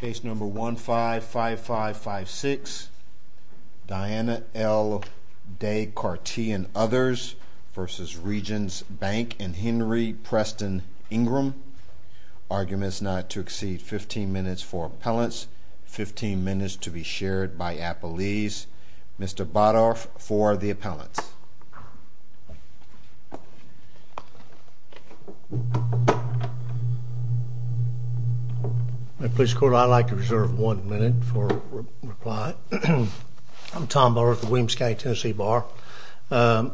Case number 155556, Diana L. Day-Cartee and others, versus Regence Bank and Henry Preston Ingram. Arguments not to exceed 15 minutes for appellants, 15 minutes to be shared by police court. I'd like to reserve one minute for reply. I'm Tom Burr Williams County, Tennessee bar. Um,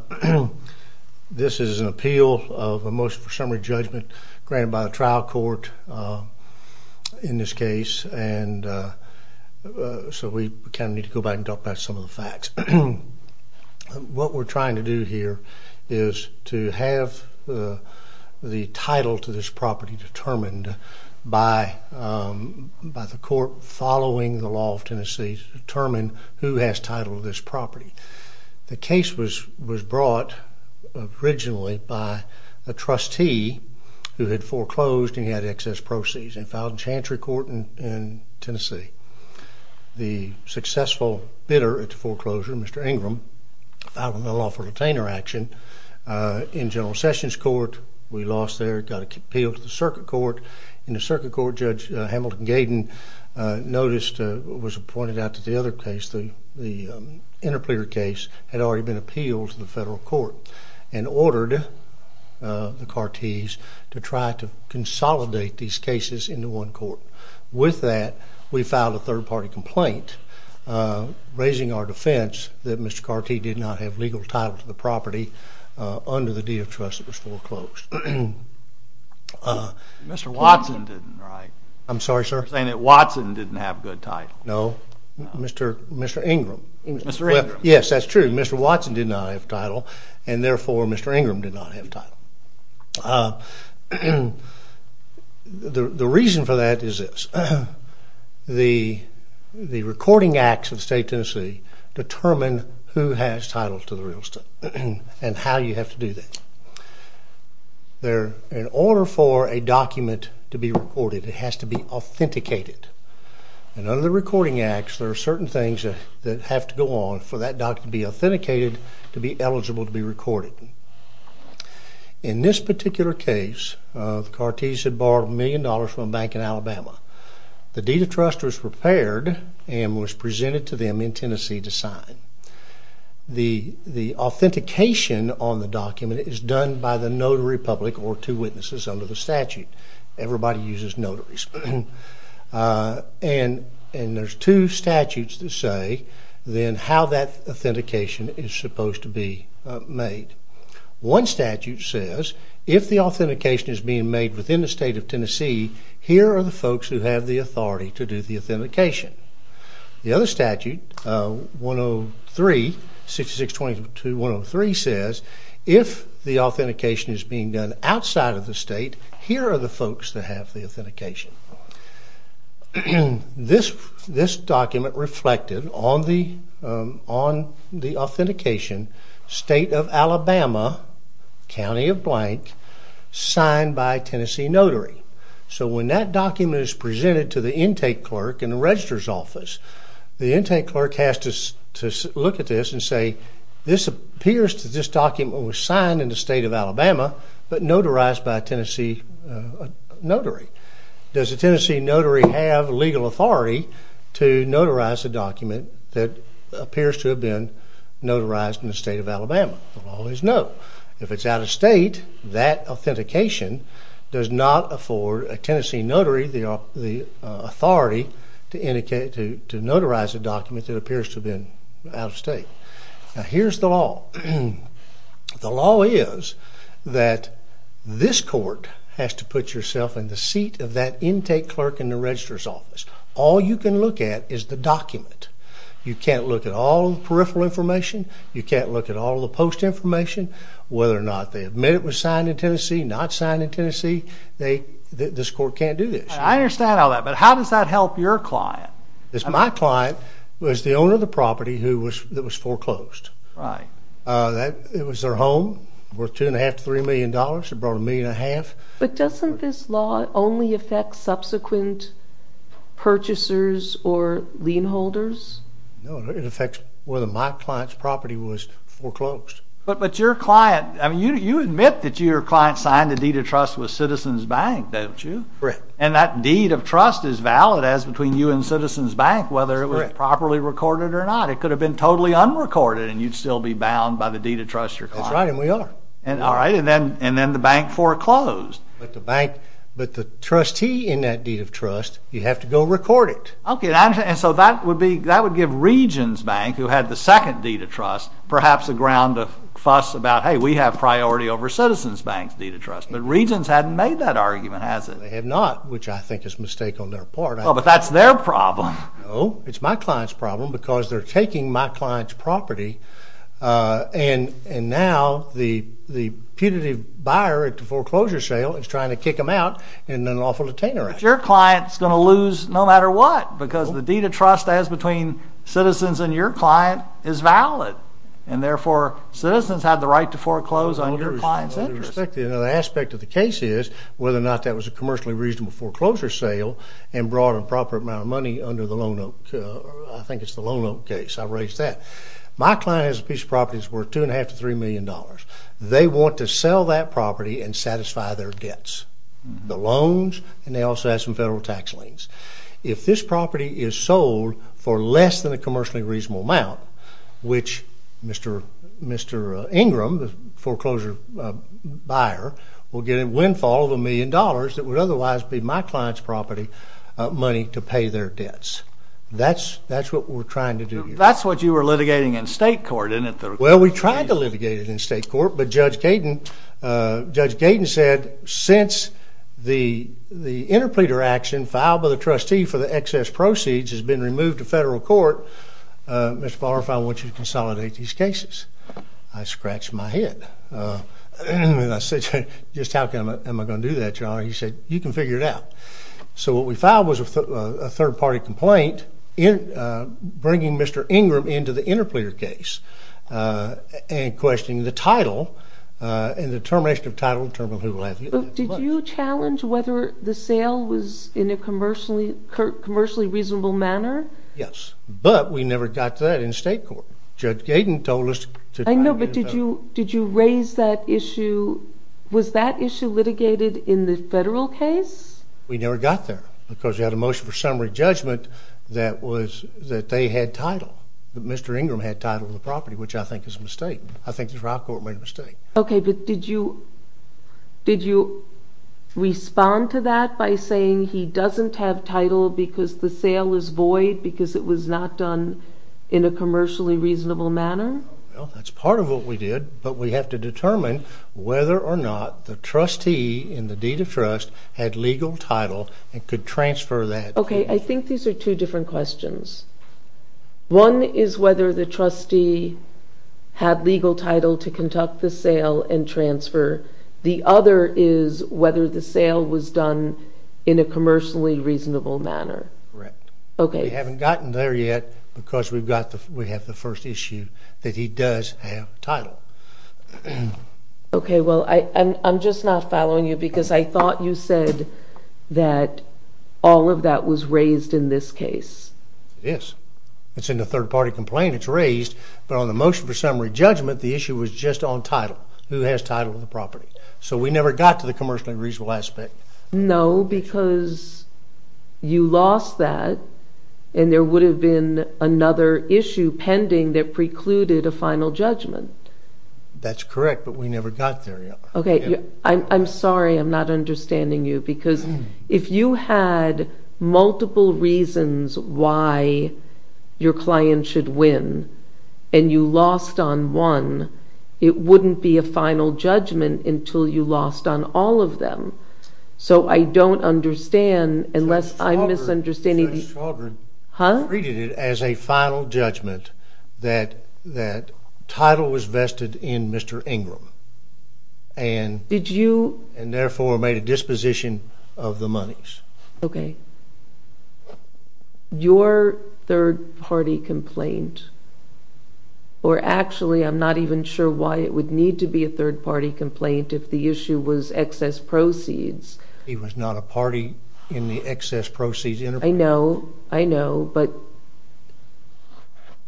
this is an appeal of a motion for summary judgment granted by the trial court, uh, in this case. And, uh, so we can need to go back and talk about some of the facts. What we're trying to do by, um, by the court following the law of Tennessee to determine who has titled this property. The case was was brought originally by a trustee who had foreclosed and he had excess proceeds and filed in Chantry Court in Tennessee. The successful bidder at the foreclosure, Mr Ingram, filed a law for retainer action in General Sessions Court. We lost there, got appealed to circuit court in the circuit court. Judge Hamilton Gaydon noticed was appointed out to the other case. The interpreter case had already been appealed to the federal court and ordered the Cartees to try to consolidate these cases into one court. With that, we filed a third party complaint, uh, raising our defense that Mr Cartee did not have legal title to property under the deed of trust that was foreclosed. Uh, Mr Watson didn't right. I'm sorry, sir, saying that Watson didn't have good title. No, Mr Mr Ingram. Yes, that's true. Mr Watson did not have title and therefore Mr Ingram did not have time. Uh, the reason for that is this. The recording acts of state Tennessee determine who has title to the real estate and how you have to do that. They're in order for a document to be recorded. It has to be authenticated. And under the recording acts, there are certain things that have to go on for that doc to be authenticated to be eligible to be recorded. In this particular case, uh, Cartees had borrowed $1,000,000 from a bank in to them in Tennessee to sign. The authentication on the document is done by the notary public or two witnesses under the statute. Everybody uses notaries. Uh, and and there's two statutes to say, then how that authentication is supposed to be made. One statute says, if the authentication is being made within the state of Tennessee, here are the folks who have the authority to do the authentication. The other statute, uh, 103 66 22 103 says, if the authentication is being done outside of the state, here are the folks that have the authentication. This this document reflected on the on the authentication state of Alabama County of blank signed by Tennessee notary. So when that document is presented to the intake clerk in the registrar's office, the intake clerk has to look at this and say, this appears to this document was signed in the state of Alabama, but notarized by Tennessee notary. Does the Tennessee notary have legal authority to notarize a document that appears to have been if it's out of state, that authentication does not afford a Tennessee notary the the authority to indicate to notarize a document that appears to have been out of state. Here's the law. The law is that this court has to put yourself in the seat of that intake clerk in the registrar's office. All you can look at is the document. You can't look at all the peripheral information. You can't look at all the post information, whether or not they admit it was signed in Tennessee, not signed in Tennessee. They this court can't do this. I understand all that. But how does that help your client? It's my client was the owner of the property who was that was foreclosed, right? Uh, that it was their home worth 2.5 to $3 million. It brought a million a half. But doesn't this law only affect subsequent purchasers or lien holders? No, it affects whether my client's property was foreclosed. But your client, I mean, you admit that your client signed a deed of trust with Citizens Bank, don't you? Correct. And that deed of trust is valid as between you and Citizens Bank, whether it was properly recorded or not. It could have been totally unrecorded and you'd still be bound by the deed of trust your client. That's right, and we are. All right, and then the bank foreclosed. But the trustee in that deed of trust, you have to go record it. Okay, and so that would be that would give Regions Bank, who had the second deed of trust, perhaps a ground of fuss about, hey, we have priority over Citizens Bank's deed of trust. But Regions hadn't made that argument, has it? They have not, which I think is a mistake on their part. Oh, but that's their problem. No, it's my client's problem because they're taking my client's property. Uh, and and now the the punitive buyer at the foreclosure sale is trying to kick him out and an awful detainer. If your client's going to lose no matter what, because the deed of trust as between citizens and your client is valid, and therefore citizens have the right to foreclose on your client's interest. The aspect of the case is whether or not that was a commercially reasonable foreclosure sale and brought a proper amount of money under the loan, I think it's the loan case. I raised that. My client has a piece of property that's worth two and a half to three million dollars. They want to sell that property and satisfy their debts. The loans, and they also have some federal tax liens. If this property is sold for less than a commercially reasonable amount, which Mr. Mr. Ingram, the foreclosure buyer, will get a windfall of a million dollars that would otherwise be my client's property money to pay their debts. That's that's what we're trying to do. That's what you were litigating in state court, isn't it? Well, we tried to litigate it in state court, but Judge Gaten said, since the interpleader action filed by the trustee for the excess proceeds has been removed to federal court, Mr. Fowler, if I want you to consolidate these cases. I scratched my head. I said, just how am I going to do that, your honor? He said, you can figure it out. So what we filed was a third-party complaint bringing Mr. Ingram into the in the termination of title. Did you challenge whether the sale was in a commercially reasonable manner? Yes, but we never got that in state court. Judge Gaten told us. I know, but did you did you raise that issue? Was that issue litigated in the federal case? We never got there because we had a motion for summary judgment that was that they had title. Mr. Ingram had title of the property, which I think is a mistake. I think the trial court made a mistake. Okay, but did you did you respond to that by saying he doesn't have title because the sale is void because it was not done in a commercially reasonable manner? That's part of what we did, but we have to determine whether or not the trustee in the deed of trust had legal title and could transfer that. Okay, I think these are two different questions. One is whether the trustee had legal title to conduct the sale and transfer. The other is whether the sale was done in a commercially reasonable manner. Correct. Okay. We haven't gotten there yet because we've got the we have the first issue that he does have title. Okay, well I'm just not following you because I thought you said that all of that was raised in this case. Yes, it's in the third-party complaint. It's raised, but on the motion for summary judgment, the issue was just on title. Who has title of the property? So we never got to the commercially reasonable aspect. No, because you lost that and there would have been another issue pending that precluded a final judgment. That's correct, but we never got there. Okay, I'm sorry I'm not understanding you because if you had multiple reasons why your client should win and you lost on one, it wouldn't be a final judgment until you lost on all of them. So I don't understand unless I'm misunderstanding. Judge Saldrin treated it as a final judgment that that title was vested in Mr. Ingram and therefore made a disposition of the monies. Okay, your third-party complaint, or actually I'm not even sure why it would need to be a third-party complaint if the issue was excess proceeds. He was not a party in the excess proceeds. I know, I know, but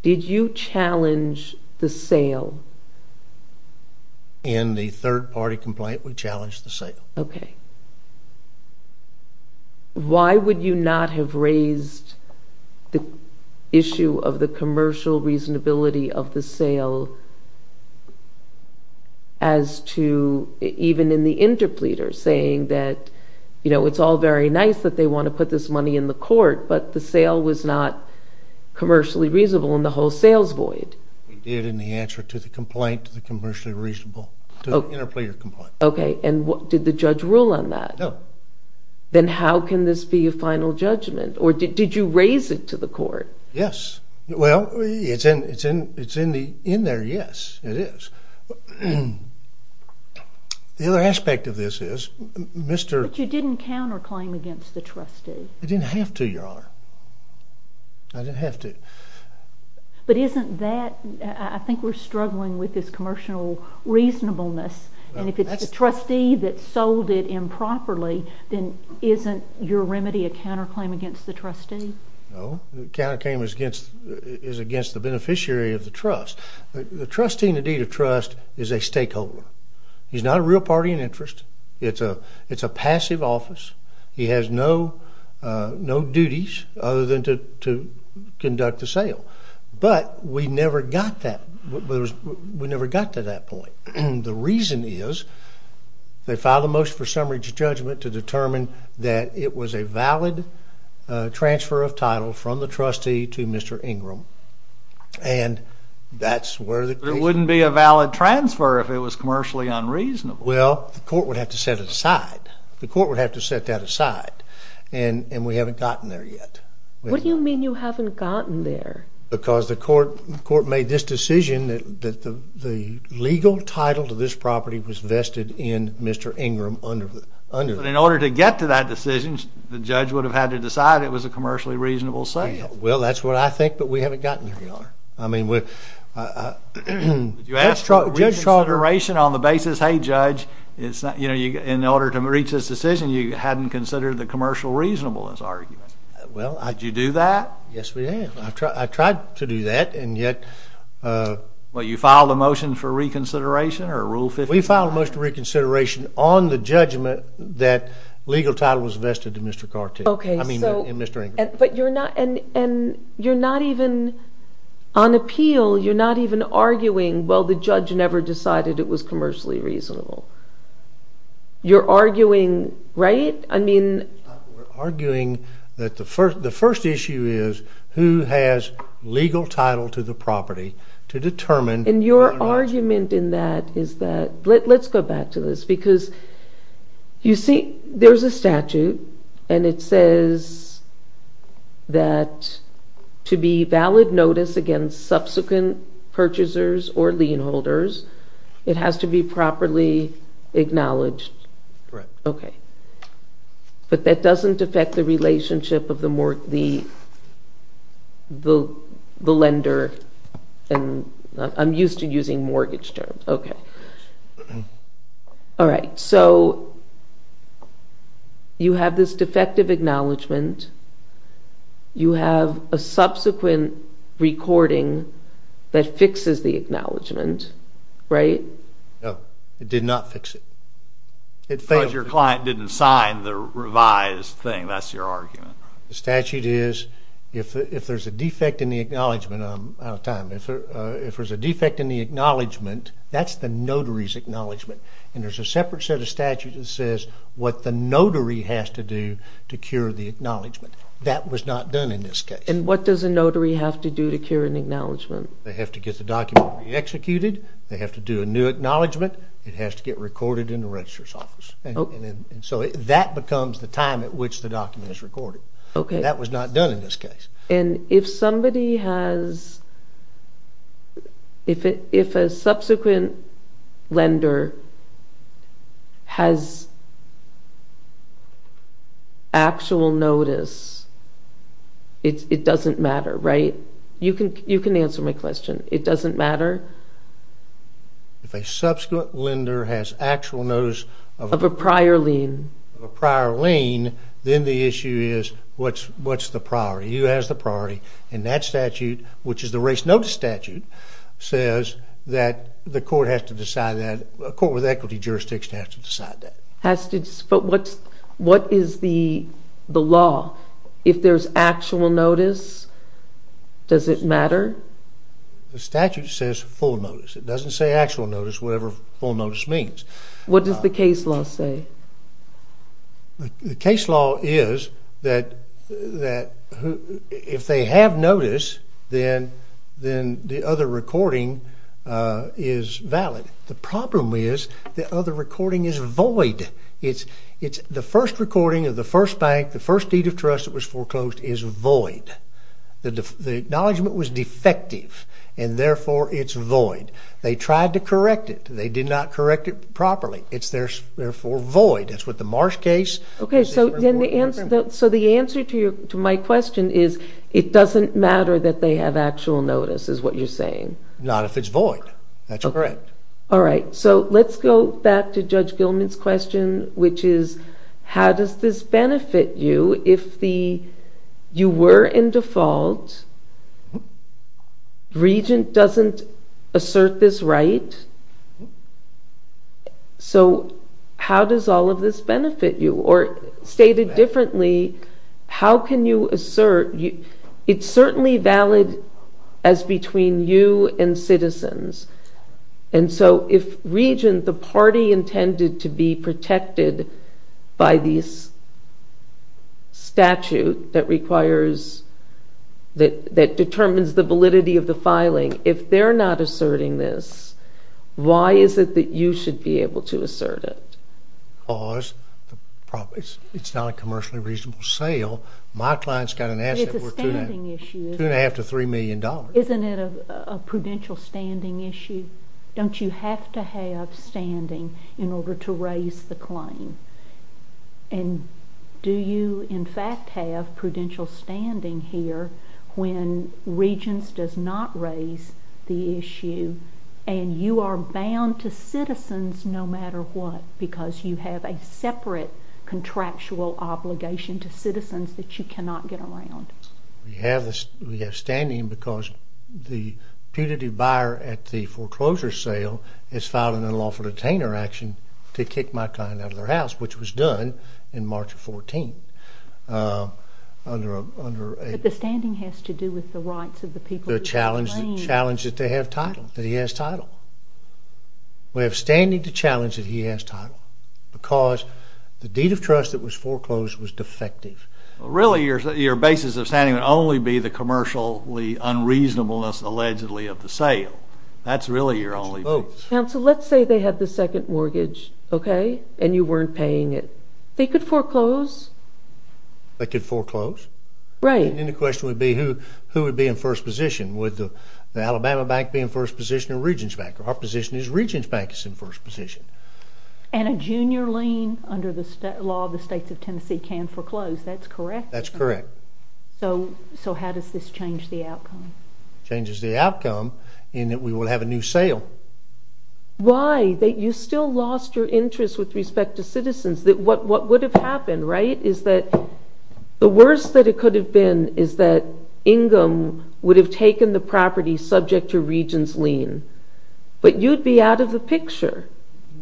did you challenge the sale? In the third-party complaint, we challenged the sale. Why would you not have raised the issue of the commercial reasonability of the sale as to, even in the interpleader, saying that, you know, it's all very nice that they want to put this money in the court, but the sale was not commercially reasonable in the whole sales void. We did in the answer to the complaint, the commercially reasonable interpleader complaint. Okay, and what did the judge rule on that? No. Then how can this be a final judgment, or did you raise it to the court? Yes, well, it's in there, yes, it is. The other aspect of this is, Mr. But you didn't counterclaim against the trustee. I didn't have to, Your Honor. I didn't have to. But isn't that, I think we're struggling with this commercial reasonableness, and if it's a trustee that sold it improperly, then isn't your remedy a counterclaim against the trustee? No, the counterclaim is against, is against the beneficiary of the trust. The trustee in the deed of trust is a stakeholder. He's not a real party in interest. It's a, it's a passive office. He has no, no duties other than to conduct the sale, but we never got that, we never got to that point. The reason is, they filed a motion for summary judgment to determine that it was a valid transfer of title from the trustee to Mr. Ingram, and that's where the... But it wouldn't be a valid transfer if it was commercially unreasonable. Well, the court would have to set it aside. The court would have to set that aside, and, and we haven't gotten there yet. What do you mean you haven't gotten there? Because the court, the court made this decision that, that the, the legal title to this property was vested in Mr. Ingram under, under... But in order to get to that decision, the judge would have had to decide it was a commercially reasonable sale. Well, that's what I think, but we haven't gotten there, Your Honor. I mean, with... Did you ask for reconsideration on the basis, hey, Judge, it's not, you know, you, in order to reach this decision, you hadn't considered the commercial reasonableness argument. Well, I... Did you do that? Yes, we did. I tried to do that, and yet... Well, you filed a motion for reconsideration or Rule 55? We filed a motion for reconsideration on the judgment that legal title was vested in Mr. Cartier. Okay, so... I mean, in Mr. Ingram. But you're not, and, and you're not even, on appeal, you're not even arguing, well, the judge never decided it was commercially reasonable. You're arguing, right? I mean... We're arguing that the first, the first issue is who has legal title to the property to determine... And your argument in that is that, let's go back to this, because you see, there's a statute, and it says that to be valid notice against subsequent purchasers or lien holders, it has to be properly acknowledged. Correct. Okay, but that doesn't affect the relationship of the more, the, the, the lender, and I'm used to using mortgage terms. Okay. All right, so, you have this defective acknowledgment, you have a subsequent recording that fixes the acknowledgment, right? No, it did not fix it. It failed. Because your client didn't sign the revised thing, that's your argument. The statute is, if there's a defect in the acknowledgment, I'm out of time, if there's a defect in the acknowledgment, that's the notary's acknowledgment, and there's a separate set of statutes that says what the notary has to do to cure the acknowledgment. That was not done in this case. And what does a notary have to do to cure an acknowledgment? They have to get the executed, they have to do a new acknowledgment, it has to get recorded in the registrar's office, and so that becomes the time at which the document is recorded. Okay. That was not done in this case. And if somebody has, if it, if a subsequent lender has actual notice, it doesn't matter, right? You can, you can if a subsequent lender has actual notice of a prior lien, a prior lien, then the issue is, what's, what's the priority? Who has the priority? And that statute, which is the race notice statute, says that the court has to decide that, a court with equity jurisdiction has to decide that. Has to, but what's, what is the, the law? If there's actual notice, does it matter? The statute says full notice. It doesn't say actual notice, whatever full notice means. What does the case law say? The case law is that, that if they have notice, then, then the other recording is valid. The problem is the other recording is void. It's, it's the first recording of the first bank, the first deed of trust that was foreclosed is void. The, the acknowledgement was defective, and therefore it's void. They tried to correct it. They did not correct it properly. It's therefore void. That's what the Marsh case. Okay, so then the answer, so the answer to your, to my question is, it doesn't matter that they have actual notice, is what you're saying. Not if it's void. That's correct. All right, so let's go back to Judge How does this benefit you if the, you were in default, Regent doesn't assert this right? So how does all of this benefit you? Or stated differently, how can you assert, it's certainly valid as between you and the statute that requires, that, that determines the validity of the filing. If they're not asserting this, why is it that you should be able to assert it? Because it's not a commercially reasonable sale. My client's got an asset worth two and a half to three million dollars. Isn't it a, a prudential standing issue? Don't you have to have standing in order to raise the claim? And do you in fact have prudential standing here when Regents does not raise the issue and you are bound to citizens no matter what? Because you have a separate contractual obligation to citizens that you cannot get around. We have this. We have standing because the punitive buyer at the foreclosure sale is filing an unlawful detainer action to kick my client out of their house, which was done in March of 14th. Under a, under a... But the standing has to do with the rights of the people... The challenge, the challenge that they have title, that he has title. We have standing to challenge that he has title because the deed of trust that was foreclosed was defective. Really your, your basis of standing would only be the commercially unreasonableness allegedly of the sale. That's really your only... Oh, counsel, let's say they have the second mortgage, okay? And you weren't paying it. They could foreclose. They could foreclose? Right. And then the question would be who, who would be in first position? Would the, the Alabama Bank be in first position or Regents Bank? Our position is Regents Bank is in first position. And a junior lien under the law of the states of Tennessee can foreclose. That's correct? That's correct. So, so how does this change the outcome? Changes the deal. Why? That you still lost your interest with respect to citizens. That what, what would have happened, right, is that the worst that it could have been is that Ingram would have taken the property subject to Regents lien. But you'd be out of the picture.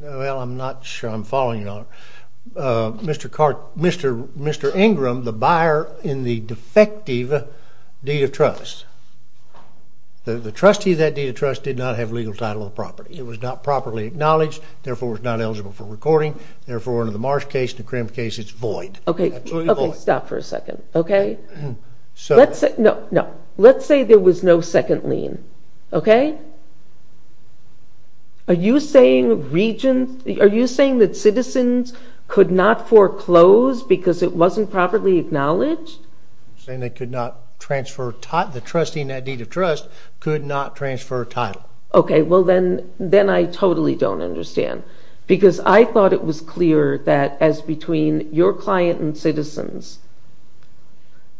Well, I'm not sure I'm following you on it. Mr. Cart, Mr. Ingram, the buyer in the defective deed of trust, the, the trustee of that deed of trust did not have legal title of property. It was not properly acknowledged. Therefore, it's not eligible for recording. Therefore, under the Marsh case and the Krim case, it's void. Okay. Okay. Stop for a second. Okay. So let's say, no, no. Let's say there was no second lien. Okay. Are you saying Regents, are you saying that citizens could not foreclose because it wasn't properly acknowledged? You're saying they could not transfer title, the trustee in that deed of trust could not transfer title. Okay. Well, then, then I totally don't understand because I thought it was clear that as between your client and citizens,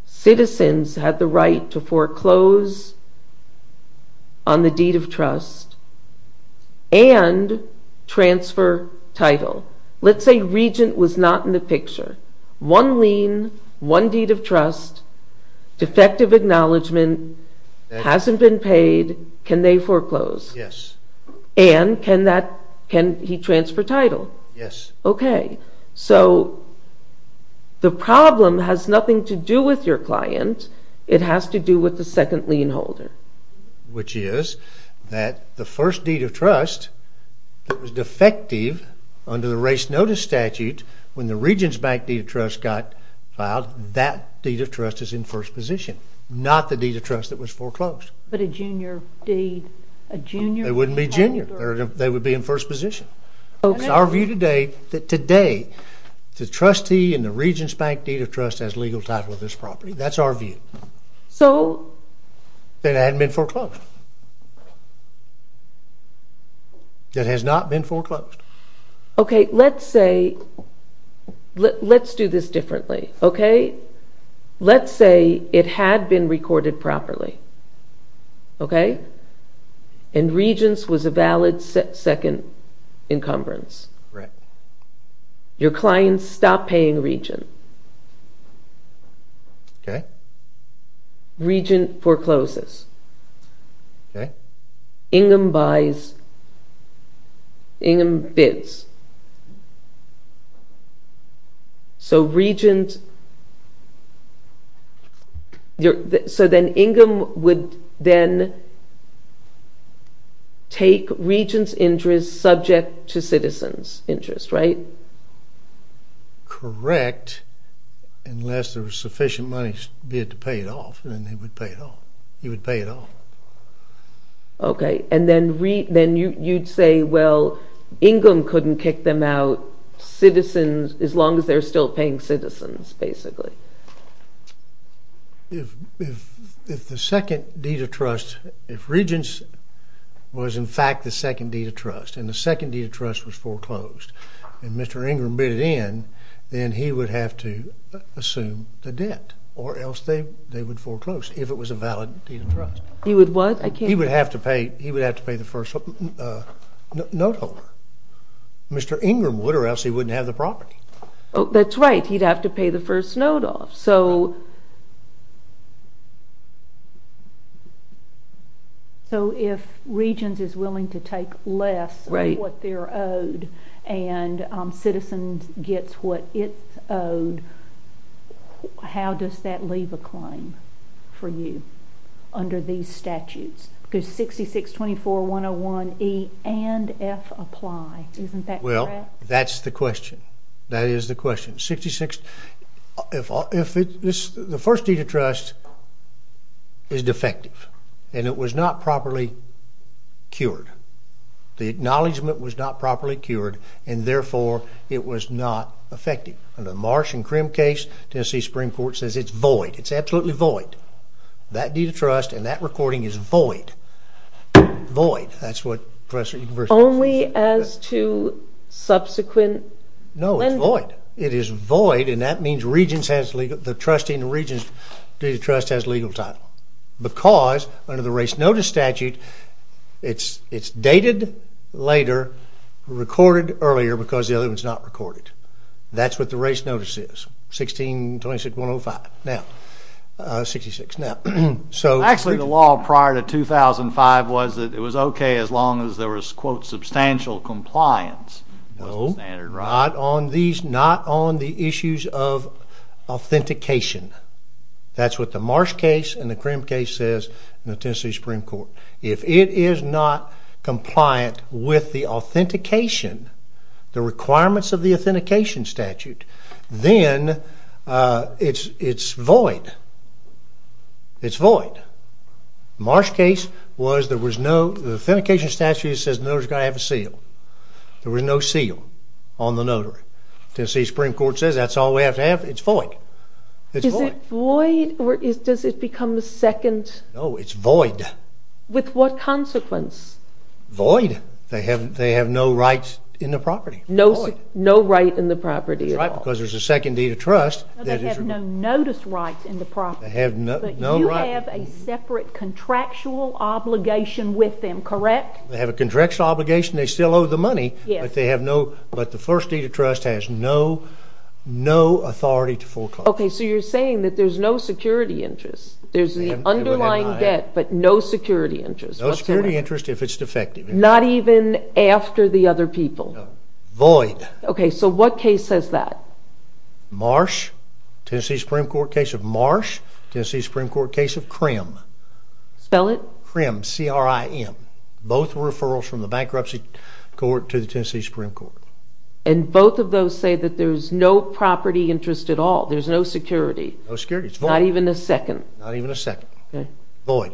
citizens had the right to foreclose on the deed of trust and transfer title. Let's say Regent was not in the picture. One lien, one deed of trust, defective acknowledgement, hasn't been paid. Can they foreclose? Yes. And can that, can he transfer title? Yes. Okay. So the problem has nothing to do with your client. It has to do with the second lien holder. Which is that the first deed of trust that was defective under the race notice statute when the Regent's bank deed of trust got filed, that deed of trust is in first position. Not the deed of trust that was foreclosed. But a junior deed, a junior... It wouldn't be junior. They would be in first position. Okay. It's our view today that today, the trustee in the Regent's bank deed of trust has legal title of this property. That's our view. So... That hadn't been foreclosed. Okay. That has not been foreclosed. Okay. Let's say... Let's do this differently. Okay. Let's say it had been recorded properly. Okay. And Regent's was a valid second encumbrance. Right. Your client stopped paying Regent. Okay. Regent forecloses. Okay. Ingham buys... Ingham bids. So Regent... So then Ingham would then take Regent's interest subject to citizen's interest, right? Correct. Unless there was sufficient money bid to pay it off, then they would pay it off. He would pay it off. Okay. And then you'd say, well, Ingham couldn't kick them out citizens as long as they're still paying citizens, basically. If the second deed of trust... If Regent's was in fact the second deed of trust and the second deed of trust was foreclosed and Mr. Ingham bid it in, then he would have to assume the debt or else they would foreclose if it was a valid deed of trust. He would what? I can't... He would have to pay the first note holder. Mr. Ingham would or else he wouldn't have the property. That's right. He'd have to pay the first note off. So if Regent's is willing to take less of what they're owed and citizens gets what it's owed, how does that leave a claim for you under these statutes? Because 6624101E and F apply, isn't that correct? Well, that's the question. That is the question. The first deed of trust is defective and it was not properly cured. The acknowledgement was not properly cured and therefore it was not effective. Under the Marsh and Krim case, Tennessee Supreme Court says it's void. It's absolutely void. That deed of trust and that recording is void. Void. That's what... Only as to subsequent... No, it's void. It is void and that means the trustee in the Regent's deed of trust has legal title because under the race notice statute, it's dated later, recorded earlier because the other one's not recorded. That's what the race notice statute said prior to 2005 was that it was okay as long as there was quote substantial compliance. No, not on these... Not on the issues of authentication. That's what the Marsh case and the Krim case says in the Tennessee Supreme Court. If it is not compliant with the authentication, the requirements of the authentication statute, then it's void. It's void. Marsh case was there was no... The authentication statute says the notary's gotta have a seal. There was no seal on the notary. Tennessee Supreme Court says that's all we have to have. It's void. It's void. Is it void or does it become the second... No, it's void. With what consequence? Void. They have no right in the property. No right in the property at all. It's right because there's a second deed of trust that is... They have no notice rights in the property. They have no right... But you have a separate contractual obligation with them, correct? They have a contractual obligation. They still owe the money, but they have no... But the first deed of trust has no authority to foreclose. Okay, so you're saying that there's no security interest. There's the underlying debt, but no security interest. No security interest if it's defective. Not even after the other people. No. Void. Okay, so what case says that? Marsh, Tennessee Supreme Court case of Marsh, Tennessee Supreme Court case of Krim. Spell it. Krim, C-R-I-M. Both were referrals from the bankruptcy court to the Tennessee Supreme Court. And both of those say that there's no property interest at all. There's no security. No security. It's void. Not even a second. Not even a second. Okay. Void.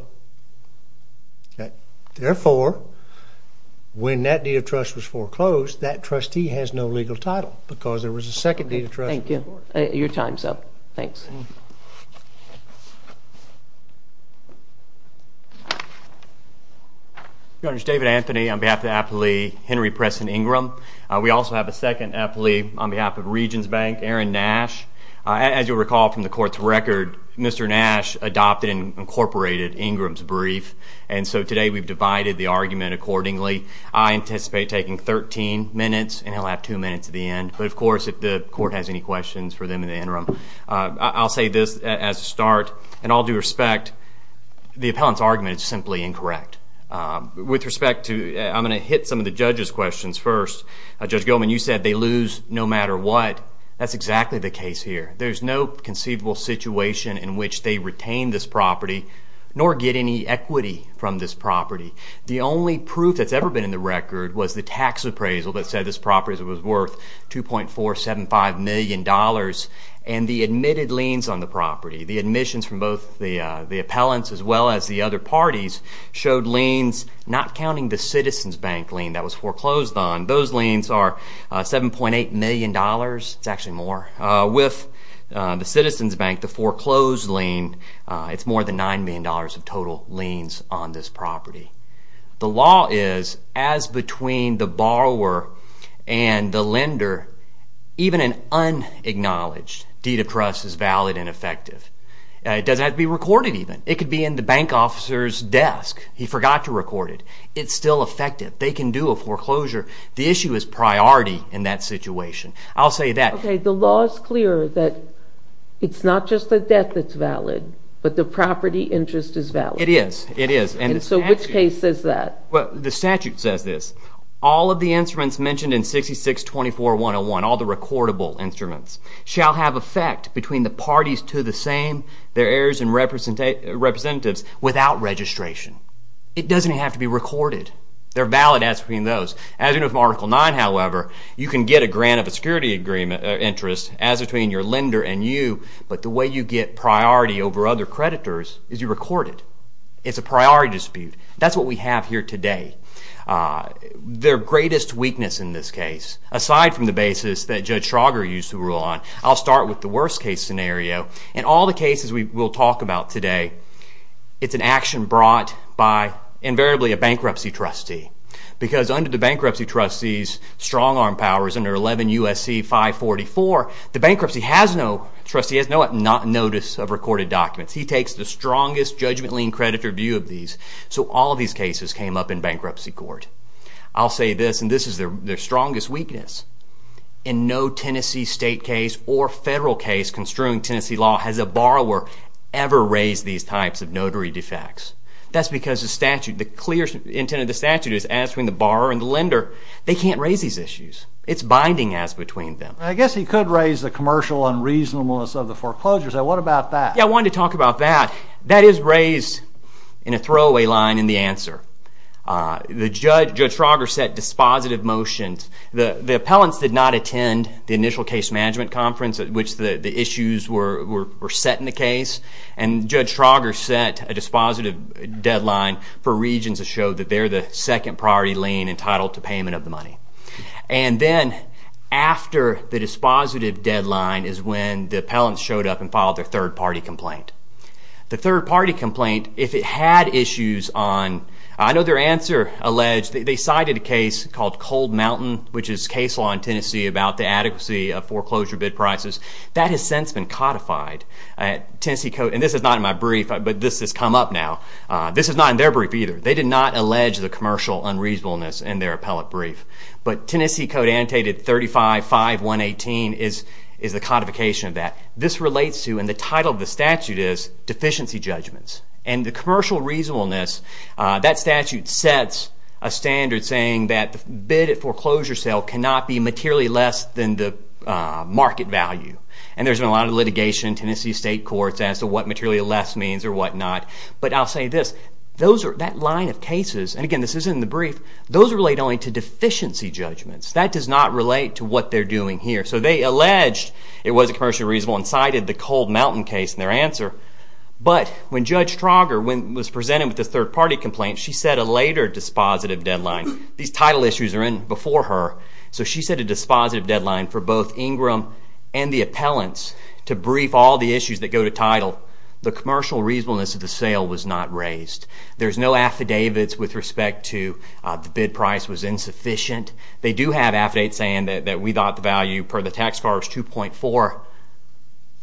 Okay. Therefore, when that deed of trust was foreclosed, that trustee has no legal title because there was a second deed of trust. Thank you. Your time's up. Thanks. Your Honor, it's David Anthony on behalf of the appleee Henry Preston Ingram. We also have a second applee on behalf of Regions Bank, Aaron Nash. As you'll recall from the court's record, Mr. Nash adopted and incorporated Ingram's brief. And so today we've divided the argument accordingly. I anticipate taking 13 minutes, and he'll have two minutes at the end. But of course, if the court has any questions for them in the interim, I'll say this as a start. In all due respect, the appellant's argument is simply incorrect. With respect to... I'm gonna hit some of the judge's questions first. Judge Gilman, you said they lose no matter what. That's exactly the case here. There's no conceivable situation in which they retain this property, nor get any equity from this property. The only proof that's ever been in the record was the tax appraisal that said this property was worth $2.475 million, and the admitted liens on the property, the admissions from both the appellants as well as the other parties, showed liens, not counting the Citizens Bank lien that was foreclosed on. Those liens are $7.8 million. It's actually more. With the Citizens Bank, the foreclosed lien, it's more than $9 million of total liens on this property. The law is, as between the borrower and the lender, even an unacknowledged deed of trust is valid and effective. It doesn't have to be recorded even. It could be in the bank officer's desk. He forgot to record it. It's still effective. They can do a foreclosure. The issue is priority in that situation. I'll say that... Okay, the law is clear that it's not just the debt that's valid, but the property interest is valid. It is. It is. And so which case says that? Well, the statute says this. All of the instruments mentioned in 6624101, all the recordable instruments, shall have effect between the parties to the same, their heirs and representatives, without registration. It doesn't have to be recorded. There are valid ads between those. As you know from Article 9, however, you can get a grant of a security interest as between your lender and you, but the way you get priority over other creditors is you record it. It's a priority dispute. That's what we have here today. Their greatest weakness in this case, aside from the basis that Judge Schrager used to rule on, I'll start with the worst case scenario. In all the cases we will talk about today, it's an action brought by, invariably, a bankruptcy trustee. Because under the bankruptcy trustee's strong arm powers, under 11 U.S.C. 544, the bankruptcy trustee has no notice of recorded documents. He takes the strongest judgmentally and creditor view of these. So all of these cases came up in bankruptcy court. I'll say this, and this is their strongest weakness. In no Tennessee state case or federal case construing Tennessee law has a borrower ever raised these types of notary defects. That's because the statute, the clear intent of the borrower and the lender, they can't raise these issues. It's binding as between them. I guess he could raise the commercial unreasonableness of the foreclosures. What about that? I wanted to talk about that. That is raised in a throwaway line in the answer. Judge Schrager set dispositive motions. The appellants did not attend the initial case management conference at which the issues were set in the case. And Judge Schrager set a significant priority lien entitled to payment of the money. And then after the dispositive deadline is when the appellants showed up and filed their third-party complaint. The third-party complaint, if it had issues on, I know their answer alleged, they cited a case called Cold Mountain, which is case law in Tennessee, about the adequacy of foreclosure bid prices. That has since been codified. And this is not in my brief, but this has come up now. This is not in their brief either. They did not allege the commercial unreasonableness in their appellate brief. But Tennessee code annotated 35-5-118 is the codification of that. This relates to, and the title of the statute is, deficiency judgments. And the commercial reasonableness, that statute sets a standard saying that the bid at foreclosure sale cannot be materially less than the market value. And there's been a lot of litigation in Tennessee state courts as to what materially less means or what not. But I'll say this, that line of cases, and again, this is in the brief, those relate only to deficiency judgments. That does not relate to what they're doing here. So they alleged it was a commercial reasonableness and cited the Cold Mountain case in their answer. But when Judge Trauger was presented with this third-party complaint, she set a later dispositive deadline. These title issues are in before her. So she set a dispositive deadline for both Ingram and the appellants to brief all the issues that go to title. The commercial reasonableness of the sale was not raised. There's no affidavits with respect to the bid price was insufficient. They do have affidavits saying that we thought the value per the tax card was 2.4,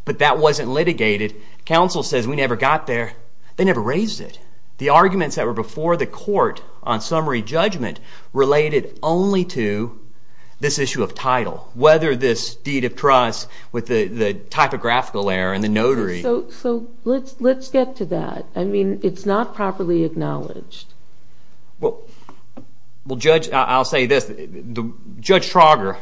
but that wasn't litigated. Counsel says we never got there. They never raised it. The arguments that were before the court on summary judgment related only to this issue of title, whether this deed of trust with the typographical error and the notary. So let's get to that. I mean, it's not properly acknowledged. Well, Judge, I'll say this. Judge Trauger,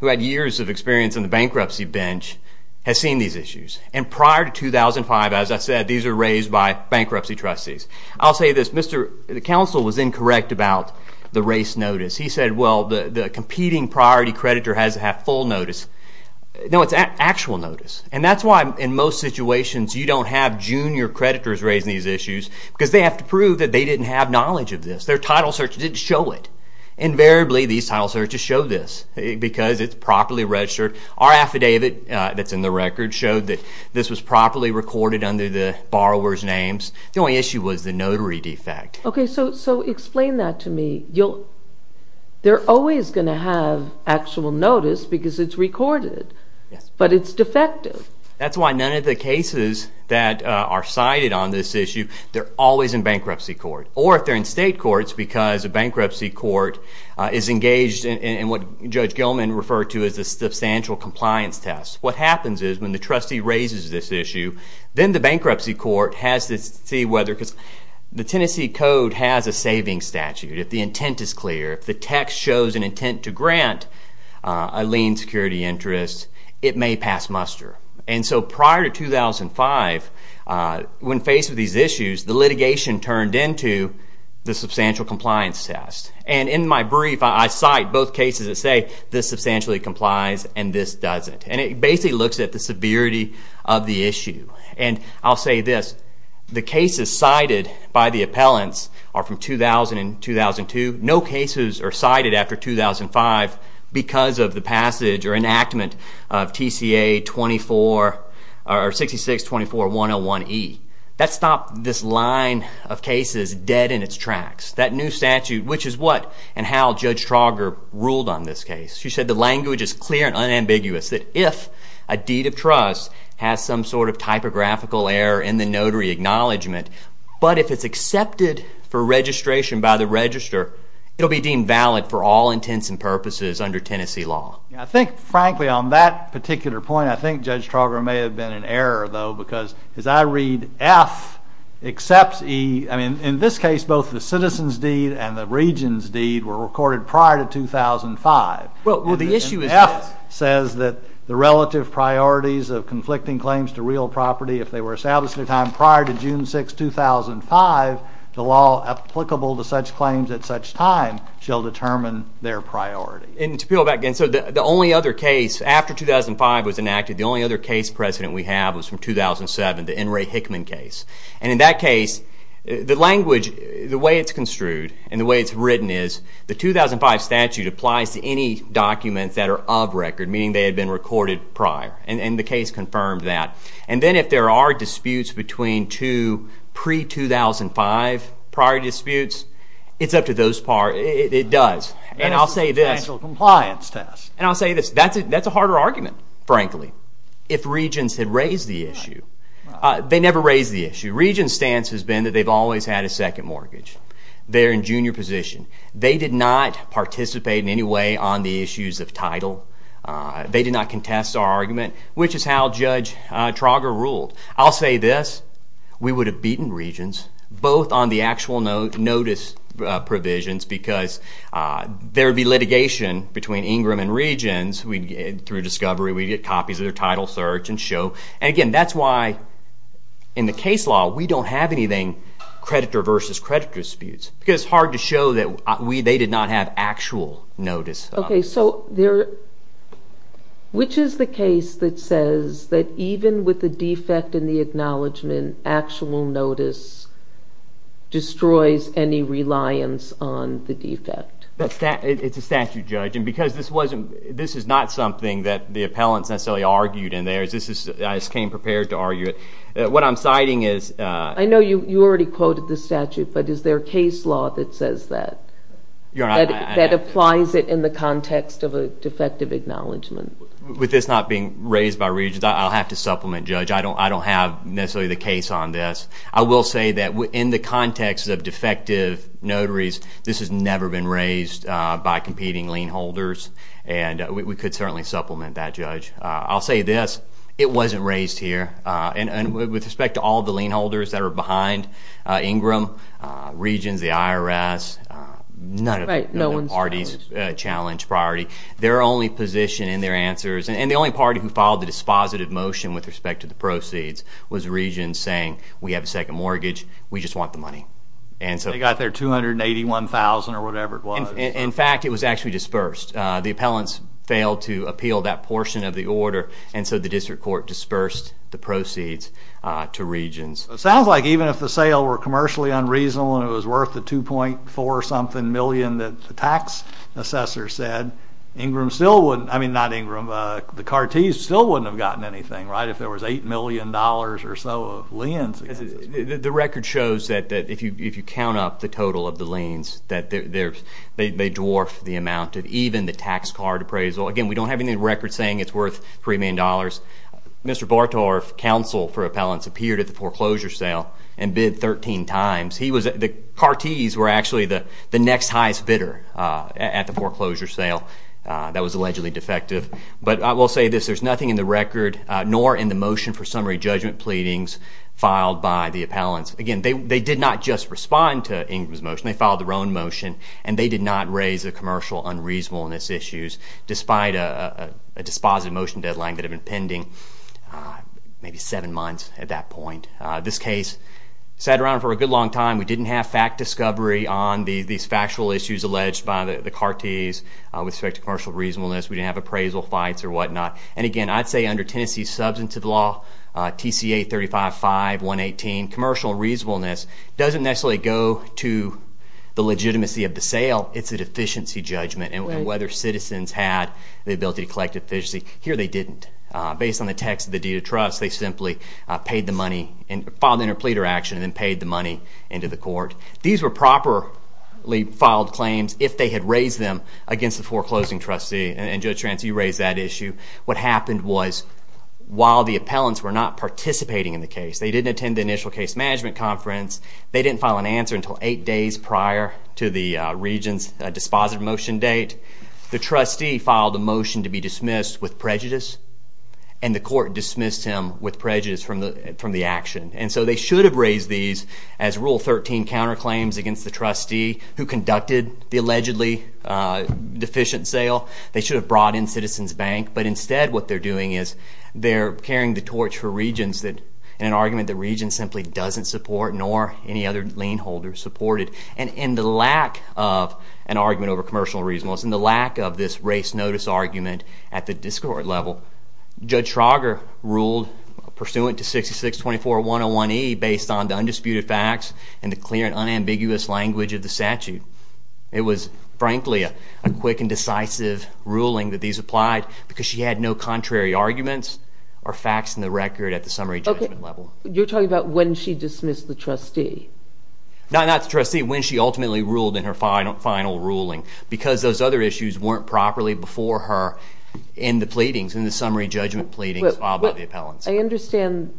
who had years of experience on the bankruptcy bench, has seen these issues. And prior to 2005, as I said, these were raised by bankruptcy trustees. I'll say this. The counsel was incorrect about the race notice. He said, well, the competing priority creditor has to have full notice. No, it's actual notice. And that's why, in most situations, you don't have junior creditors raising these issues, because they have to prove that they didn't have knowledge of this. Their title search didn't show it. Invariably, these title searches show this, because it's properly registered. Our affidavit that's in the record showed that this was properly recorded under the borrower's names. The only issue was the notary defect. OK. So explain that to me. They're always going to have actual notice because it's recorded. But it's defective. That's why none of the cases that are cited on this issue, they're always in bankruptcy court. Or if they're in state courts, because a bankruptcy court is engaged in what Judge Gilman referred to as a substantial compliance test. What happens is, when the trustee raises this issue, then the bankruptcy court has to see whether... Because the Tennessee Code has a savings statute. If the intent is clear, if the text shows an intent to grant a lien security interest, it may pass muster. And so prior to 2005, when faced with these issues, the litigation turned into the substantial compliance test. And in my brief, I cite both cases that say, this substantially complies and this doesn't. And it basically looks at the severity of the issue. And I'll say this, the cases cited by the appellants are from 2000 and 2002. No cases are cited after 2005 because of the passage or enactment of TCA 6424101E. That stopped this line of cases dead in its tracks. That new statute, which is what and how Judge Trauger ruled on this case. She said the language is clear and unambiguous, that if a deed of trust has some sort of typographical error in the notary acknowledgement, but if it's accepted for registration by the register, it'll be deemed valid for all intents and purposes under Tennessee law. I think, frankly, on that particular point, I think Judge Trauger may have been in error, though, because as I read F, except E, I mean, in this case, both the citizen's deed and the region's deed were recorded prior to 2005. Well, the issue is this. F says that the relative priorities of conflicting claims to real property, if they were established at a time prior to June 6, 2005, the law applicable to such claims at such time shall determine their priority. And to go back again, so the only other case after 2005 was enacted, the only other case precedent we have was from 2007, the N. Ray Hickman case. And in that case, the language, the way it's construed and the way it's written is the 2005 statute applies to any documents that are of record, meaning they had been recorded prior. And the case confirmed that. And then if there are disputes between two pre 2005 prior disputes, it's up to those par... It does. And I'll say this. And it's a financial compliance test. And I'll say this. That's a harder argument, frankly, if regions had raised the issue. They never raised the issue. Region's stance has been that they've always had a second mortgage. They're in junior position. They did not participate in any way on the issues of title. They did not contest our argument, which is how Judge Trauger ruled. I'll say this. We would have beaten regions, both on the actual notice provisions, because there would be litigation between Ingram and regions. Through discovery, we'd get copies of their title search and show. And again, that's why in the case law, we don't have anything creditor versus creditor disputes, because it's hard to show that they did not have actual notice. Okay. So there... Which is the case that says that even with the defect in the acknowledgement, actual notice destroys any reliance on the defect. It's a statute, Judge. And because this wasn't... This is not something that the appellants necessarily argued in theirs. This is... I just came prepared to argue it. What I'm citing is... I know you already quoted the statute, but is there a case law that says that? That applies it in the context of a defective acknowledgement. With this not being raised by regions, I'll have to supplement, Judge. I don't have necessarily the case on this. I will say that in the context of defective notaries, this has never been raised by competing lien holders, and we could certainly supplement that, Judge. I'll say this, it wasn't raised here. And with respect to all the lien holders that are behind Ingram, regions, the IRS, none of the parties challenged priority. Their only position in their answers, and the only party who filed the dispositive motion with respect to the proceeds, was a region saying, we have a second mortgage, we just want the money. And so... They got their 281,000 or whatever it was. In fact, it was actually dispersed. The appellants failed to appeal that portion of the order, and so the district court dispersed the proceeds to regions. It sounds like even if the sale were commercially unreasonable and it was worth the 2.4 something million that the tax assessor said, Ingram still wouldn't... I mean, not Ingram, the Cartes still wouldn't have gotten anything, right? If there was $8 million or so of liens against this. The record shows that if you count up the total of the liens, they dwarf the amount of even the tax card appraisal. Again, we don't have any records saying it's worth $3 million. Mr. Bartorf, counsel for appellants, appeared at the foreclosure sale and bid 13 times. The Cartes were actually the next highest bidder at the foreclosure sale that was allegedly defective. But I will say this, there's nothing in the record, nor in the motion for summary judgment pleadings filed by the appellants. Again, they did not just respond to Ingram's motion, they filed their own motion, and they did not raise the commercial unreasonableness issues despite a dispositive motion deadline that had been pending maybe seven months at that point. This case sat around for a good long time. We didn't have fact discovery on these factual issues alleged by the Cartes with respect to commercial reasonableness. We didn't have appraisal fights or whatnot. And again, I'd say under Tennessee's substantive law, TCA 35.5, 118, commercial reasonableness doesn't necessarily go to the legitimacy of the sale, it's a deficiency judgment. And whether citizens had the ability to collect a deficiency, here they didn't. Based on the text of the deed of trust, they simply paid the money and filed an interpleader action and then paid the money into the court. These were properly filed claims if they had raised them against the foreclosing trustee. And Judge Trance, you raised that issue. What happened was while the appellants were not participating in the case, they didn't attend the initial case management conference, they didn't file an answer until eight days prior to the regent's dispositive motion date, the trustee filed a motion from the action. And so they should have raised these as Rule 13 counterclaims against the trustee who conducted the allegedly deficient sale. They should have brought in Citizens Bank, but instead what they're doing is they're carrying the torch for regents in an argument that regents simply doesn't support nor any other lien holder supported. And in the lack of an argument over commercial reasonableness, in the lack of this race notice argument at the discord level, Judge Trauger ruled pursuant to 66-24-101-E based on the undisputed facts and the clear and unambiguous language of the statute. It was, frankly, a quick and decisive ruling that these applied because she had no contrary arguments or facts in the record at the summary judgment level. You're talking about when she dismissed the trustee? Not the trustee, when she ultimately ruled in her final ruling because those other issues weren't properly before her in the pleadings, in the summary judgment pleadings filed by the appellants. I understand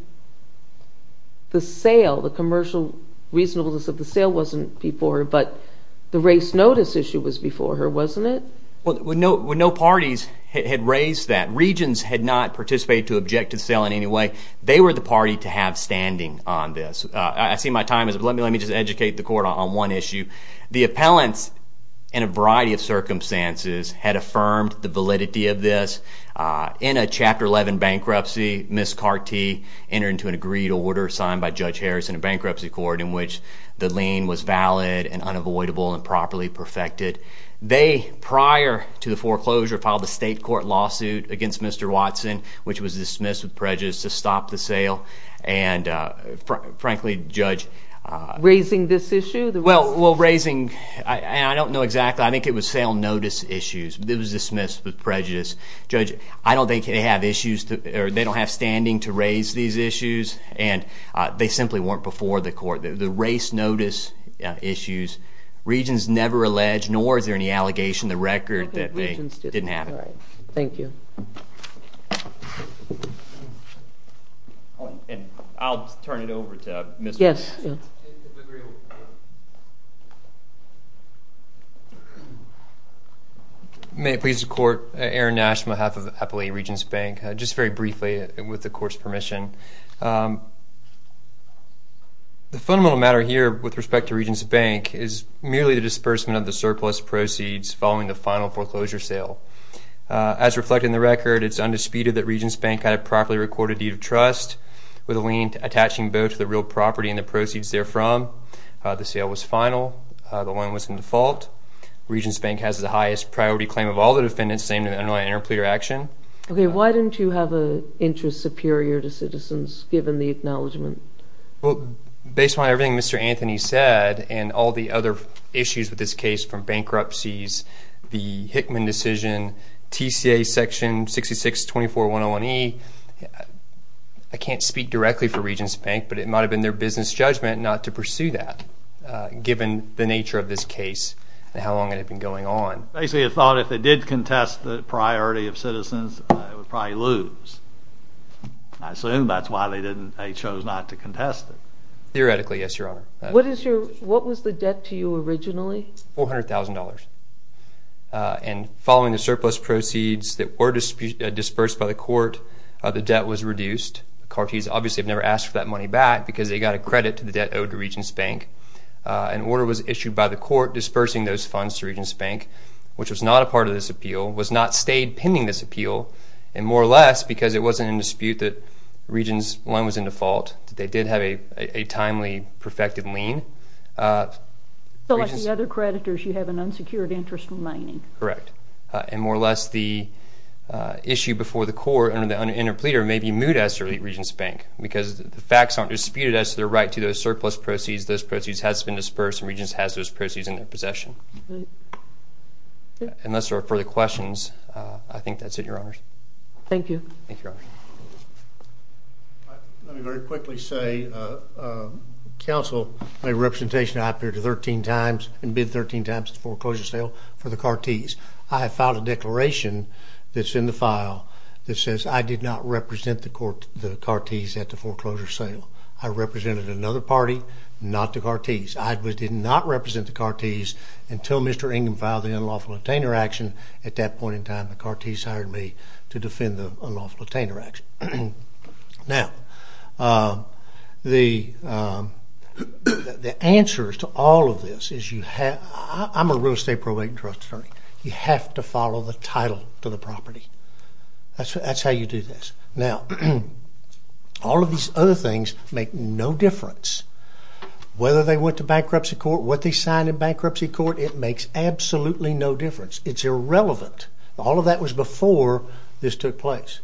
the sale, the commercial reasonableness of the sale wasn't before her, but the race notice issue was before her, wasn't it? Well, no parties had raised that. Regents had not participated to object to the sale in any way. They were the party to have standing on this. I see my time is up. Let me just educate the court on one issue. The appellants, in a variety of circumstances, had affirmed the validity of this. In a Chapter 11 bankruptcy, Ms. Cartee entered into an agreed order signed by Judge Harris in a bankruptcy court in which the lien was valid and unavoidable and properly perfected. They, prior to the foreclosure, filed a state court lawsuit against Mr. Watson, which was dismissed with prejudice. Well, raising... I don't know exactly. I think it was sale notice issues. It was dismissed with prejudice. Judge, I don't think they have issues to... They don't have standing to raise these issues, and they simply weren't before the court. The race notice issues, Regents never alleged, nor is there any allegation in the record that they didn't have it. Thank you. I'll turn it over to Mr. Watson. Yes. May it please the court, Aaron Nash, on behalf of Appellee Regents Bank. Just very briefly, with the court's permission. The fundamental matter here, with respect to Regents Bank, is merely the disbursement of the surplus proceeds following the final foreclosure sale. As reflected in the record, it's undisputed that Regents Bank had a properly recorded deed of trust with a attaching both the real property and the proceeds therefrom. The sale was final. The line was in default. Regents Bank has the highest priority claim of all the defendants, same in the underlying interpleader action. Okay, why didn't you have a interest superior to citizens, given the acknowledgment? Well, based on everything Mr. Anthony said, and all the other issues with this case, from bankruptcies, the Hickman decision, TCA section 6624101E, I can't speak directly for Regents Bank, but it might have been their business judgment not to pursue that, given the nature of this case and how long it had been going on. Basically, they thought if they did contest the priority of citizens, they would probably lose. I assume that's why they didn't, they chose not to contest it. Theoretically, yes, your honor. What is the debt to you originally? $400,000. And following the surplus proceeds that were dispersed by the court, the debt was reduced. The Cartes obviously have never asked for that money back, because they got a credit to the debt owed to Regents Bank. An order was issued by the court dispersing those funds to Regents Bank, which was not a part of this appeal, was not stayed pending this appeal, and more or less because it wasn't in dispute that Regents line was in default, they did have a timely, perfected lien. So like the other creditors, you have an unsecured interest remaining. Correct. And more or less the issue before the court and the interpleader may be moot as to Regents Bank, because the facts aren't disputed as to their right to those surplus proceeds. Those proceeds has been dispersed and Regents has those proceeds in their possession. Unless there are further questions, I think that's it, your honors. Thank you. Thank you, your honor. Let me very quickly say, counsel, my representation I appeared 13 times and bid 13 times at the foreclosure sale for the Cartes. I have filed a declaration that's in the file that says I did not represent the court, the Cartes, at the foreclosure sale. I represented another party, not the Cartes. I did not represent the Cartes until Mr. Ingham filed the unlawful retainer action. At that point in time, the Cartes hired me to defend the unlawful retainer action. Now, the answers to all of this is you have, I'm a real estate probate and trust attorney, you have to follow the title to the property. That's how you do this. Now, all of these other things make no difference. Whether they went to bankruptcy court, what they signed in bankruptcy court, it makes absolutely no difference. It's irrelevant. All of that was before this took place.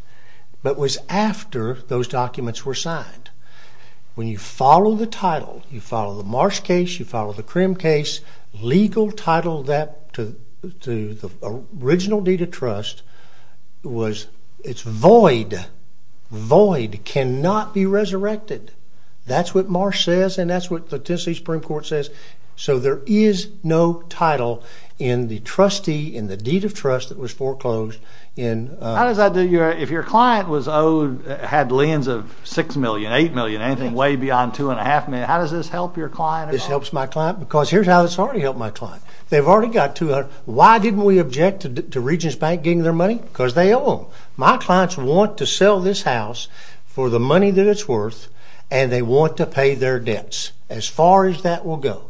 But it was after those documents were signed. When you follow the title, you follow the Marsh case, you follow the Krim case, legal title that to the original deed of trust was, it's void. Void cannot be resurrected. That's what Marsh says and that's what the Tennessee Supreme Court says. So there is no title in the trustee, in the deed of trust that was foreclosed. How does that, if your client was owed, had liens of six million, eight million, anything way beyond two and a half million, how does this help your client? This helps my client because here's how it's already helped my client. They've already got two hundred, why didn't we object to Regents Bank getting their money? Because they owe them. My clients want to sell this house for the money that it's worth and they want to pay their debts as far as that will go.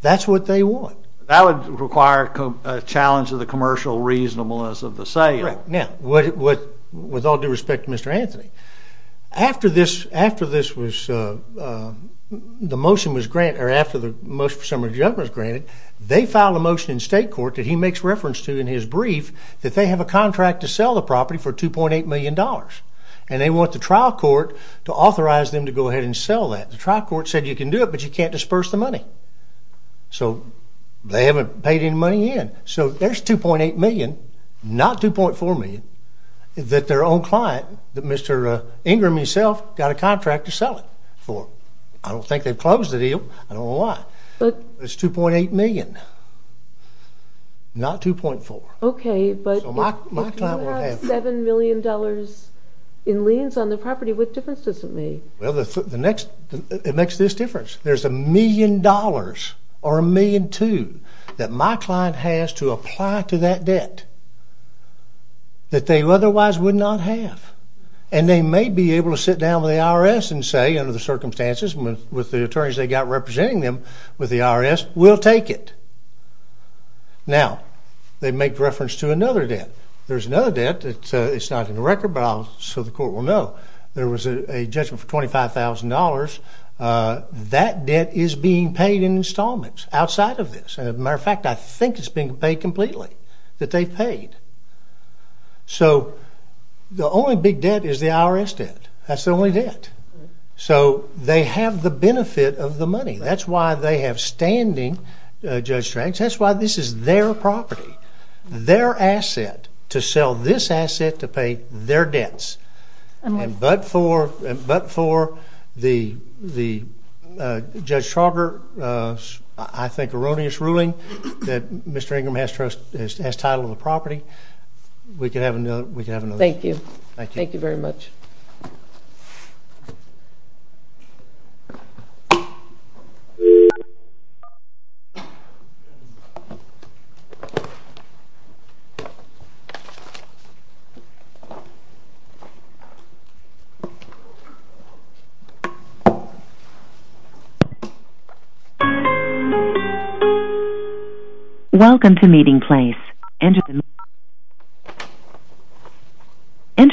That's what they want. That would require a challenge of the commercial reasonableness of the sale. Now, with all due respect to Mr. Anthony, after this, after this was, the motion was granted, or after the motion was granted, they filed a motion in state court that he makes reference to in his brief that they have a contract to sell the property for two point eight million dollars and they want the trial court to authorize them to go ahead and sell that. The trial court said you can do it but you can't disperse the money. So they haven't paid any money in. So there's 2.8 million, not 2.4 million, that their own client, Mr. Ingram himself, got a contract to sell it for. I don't think they've closed the deal, I don't know why. It's 2.8 million, not 2.4. Okay, but you have seven million dollars in liens on the property, what difference does it make? Well, it makes this difference. There's a million dollars, or a million two, that my client has to apply to that debt that they otherwise would not have. And they may be able to sit down with the IRS and say, under the circumstances, with the attorneys they've got representing them with the IRS, we'll take it. Now, they make reference to another debt. There's another debt, it's not in the record, but I'll, so the court will know, there was a judgment for completely, that they paid. So the only big debt is the IRS debt, that's the only debt. So they have the benefit of the money, that's why they have standing, Judge Stranger, that's why this is their property, their asset, to sell this asset to pay their debts. And but for, but for the, the Judge Trogger, I think erroneous ruling, that Mr. Ingram has title of the property, we could have another, we could have another. Thank you. Thank you very much. Welcome to meeting place. Enter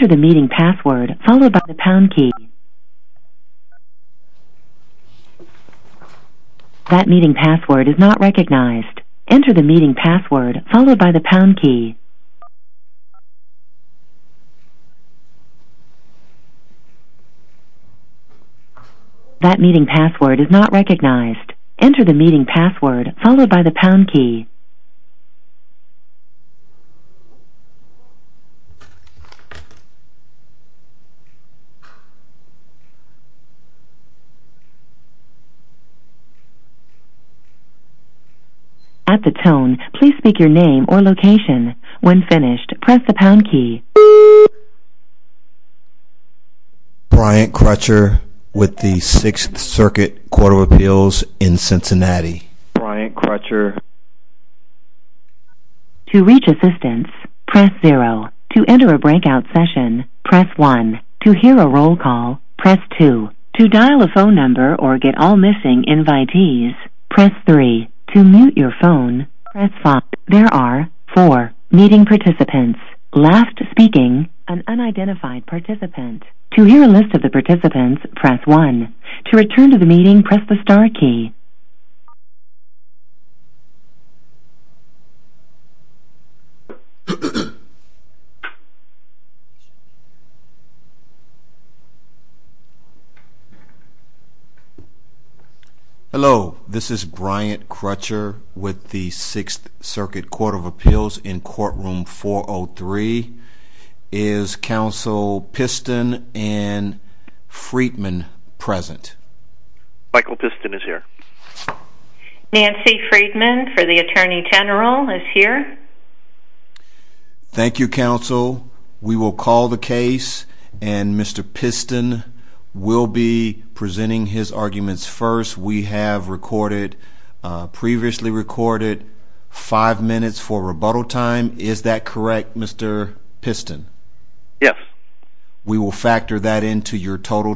the meeting password, followed by the pound key. That meeting password is not recognized. Enter the meeting password, followed by the pound key. That meeting password is not recognized. Enter the meeting password, followed by the pound key. At the tone, please speak your name or location. When finished, press the pound key. Brian Crutcher with the Sixth Circuit Court of Appeals in Cincinnati. Brian Crutcher. To reach assistance, press 0. To enter a breakout session, press 1. To hear a roll call, press 2. To dial a phone number or get all missing invitees, press 3. To mute your phone, press 5. There are 4 meeting participants. Last speaking, an unidentified participant. To hear a list of the participants, press 1. To return to the meeting, press the star key. Hello, this is Brian Crutcher with the Sixth Circuit Court of Appeals in courtroom 403. Is counsel Piston and Freedman present? Michael Piston is here. Nancy Freedman for the Attorney General is here. Thank you, counsel. We will call the case and Mr. Piston will be presenting his arguments first. We have recorded, previously recorded, five minutes for rebuttal time. Is that correct, Mr. Piston? Yes. We will factor that into your total time.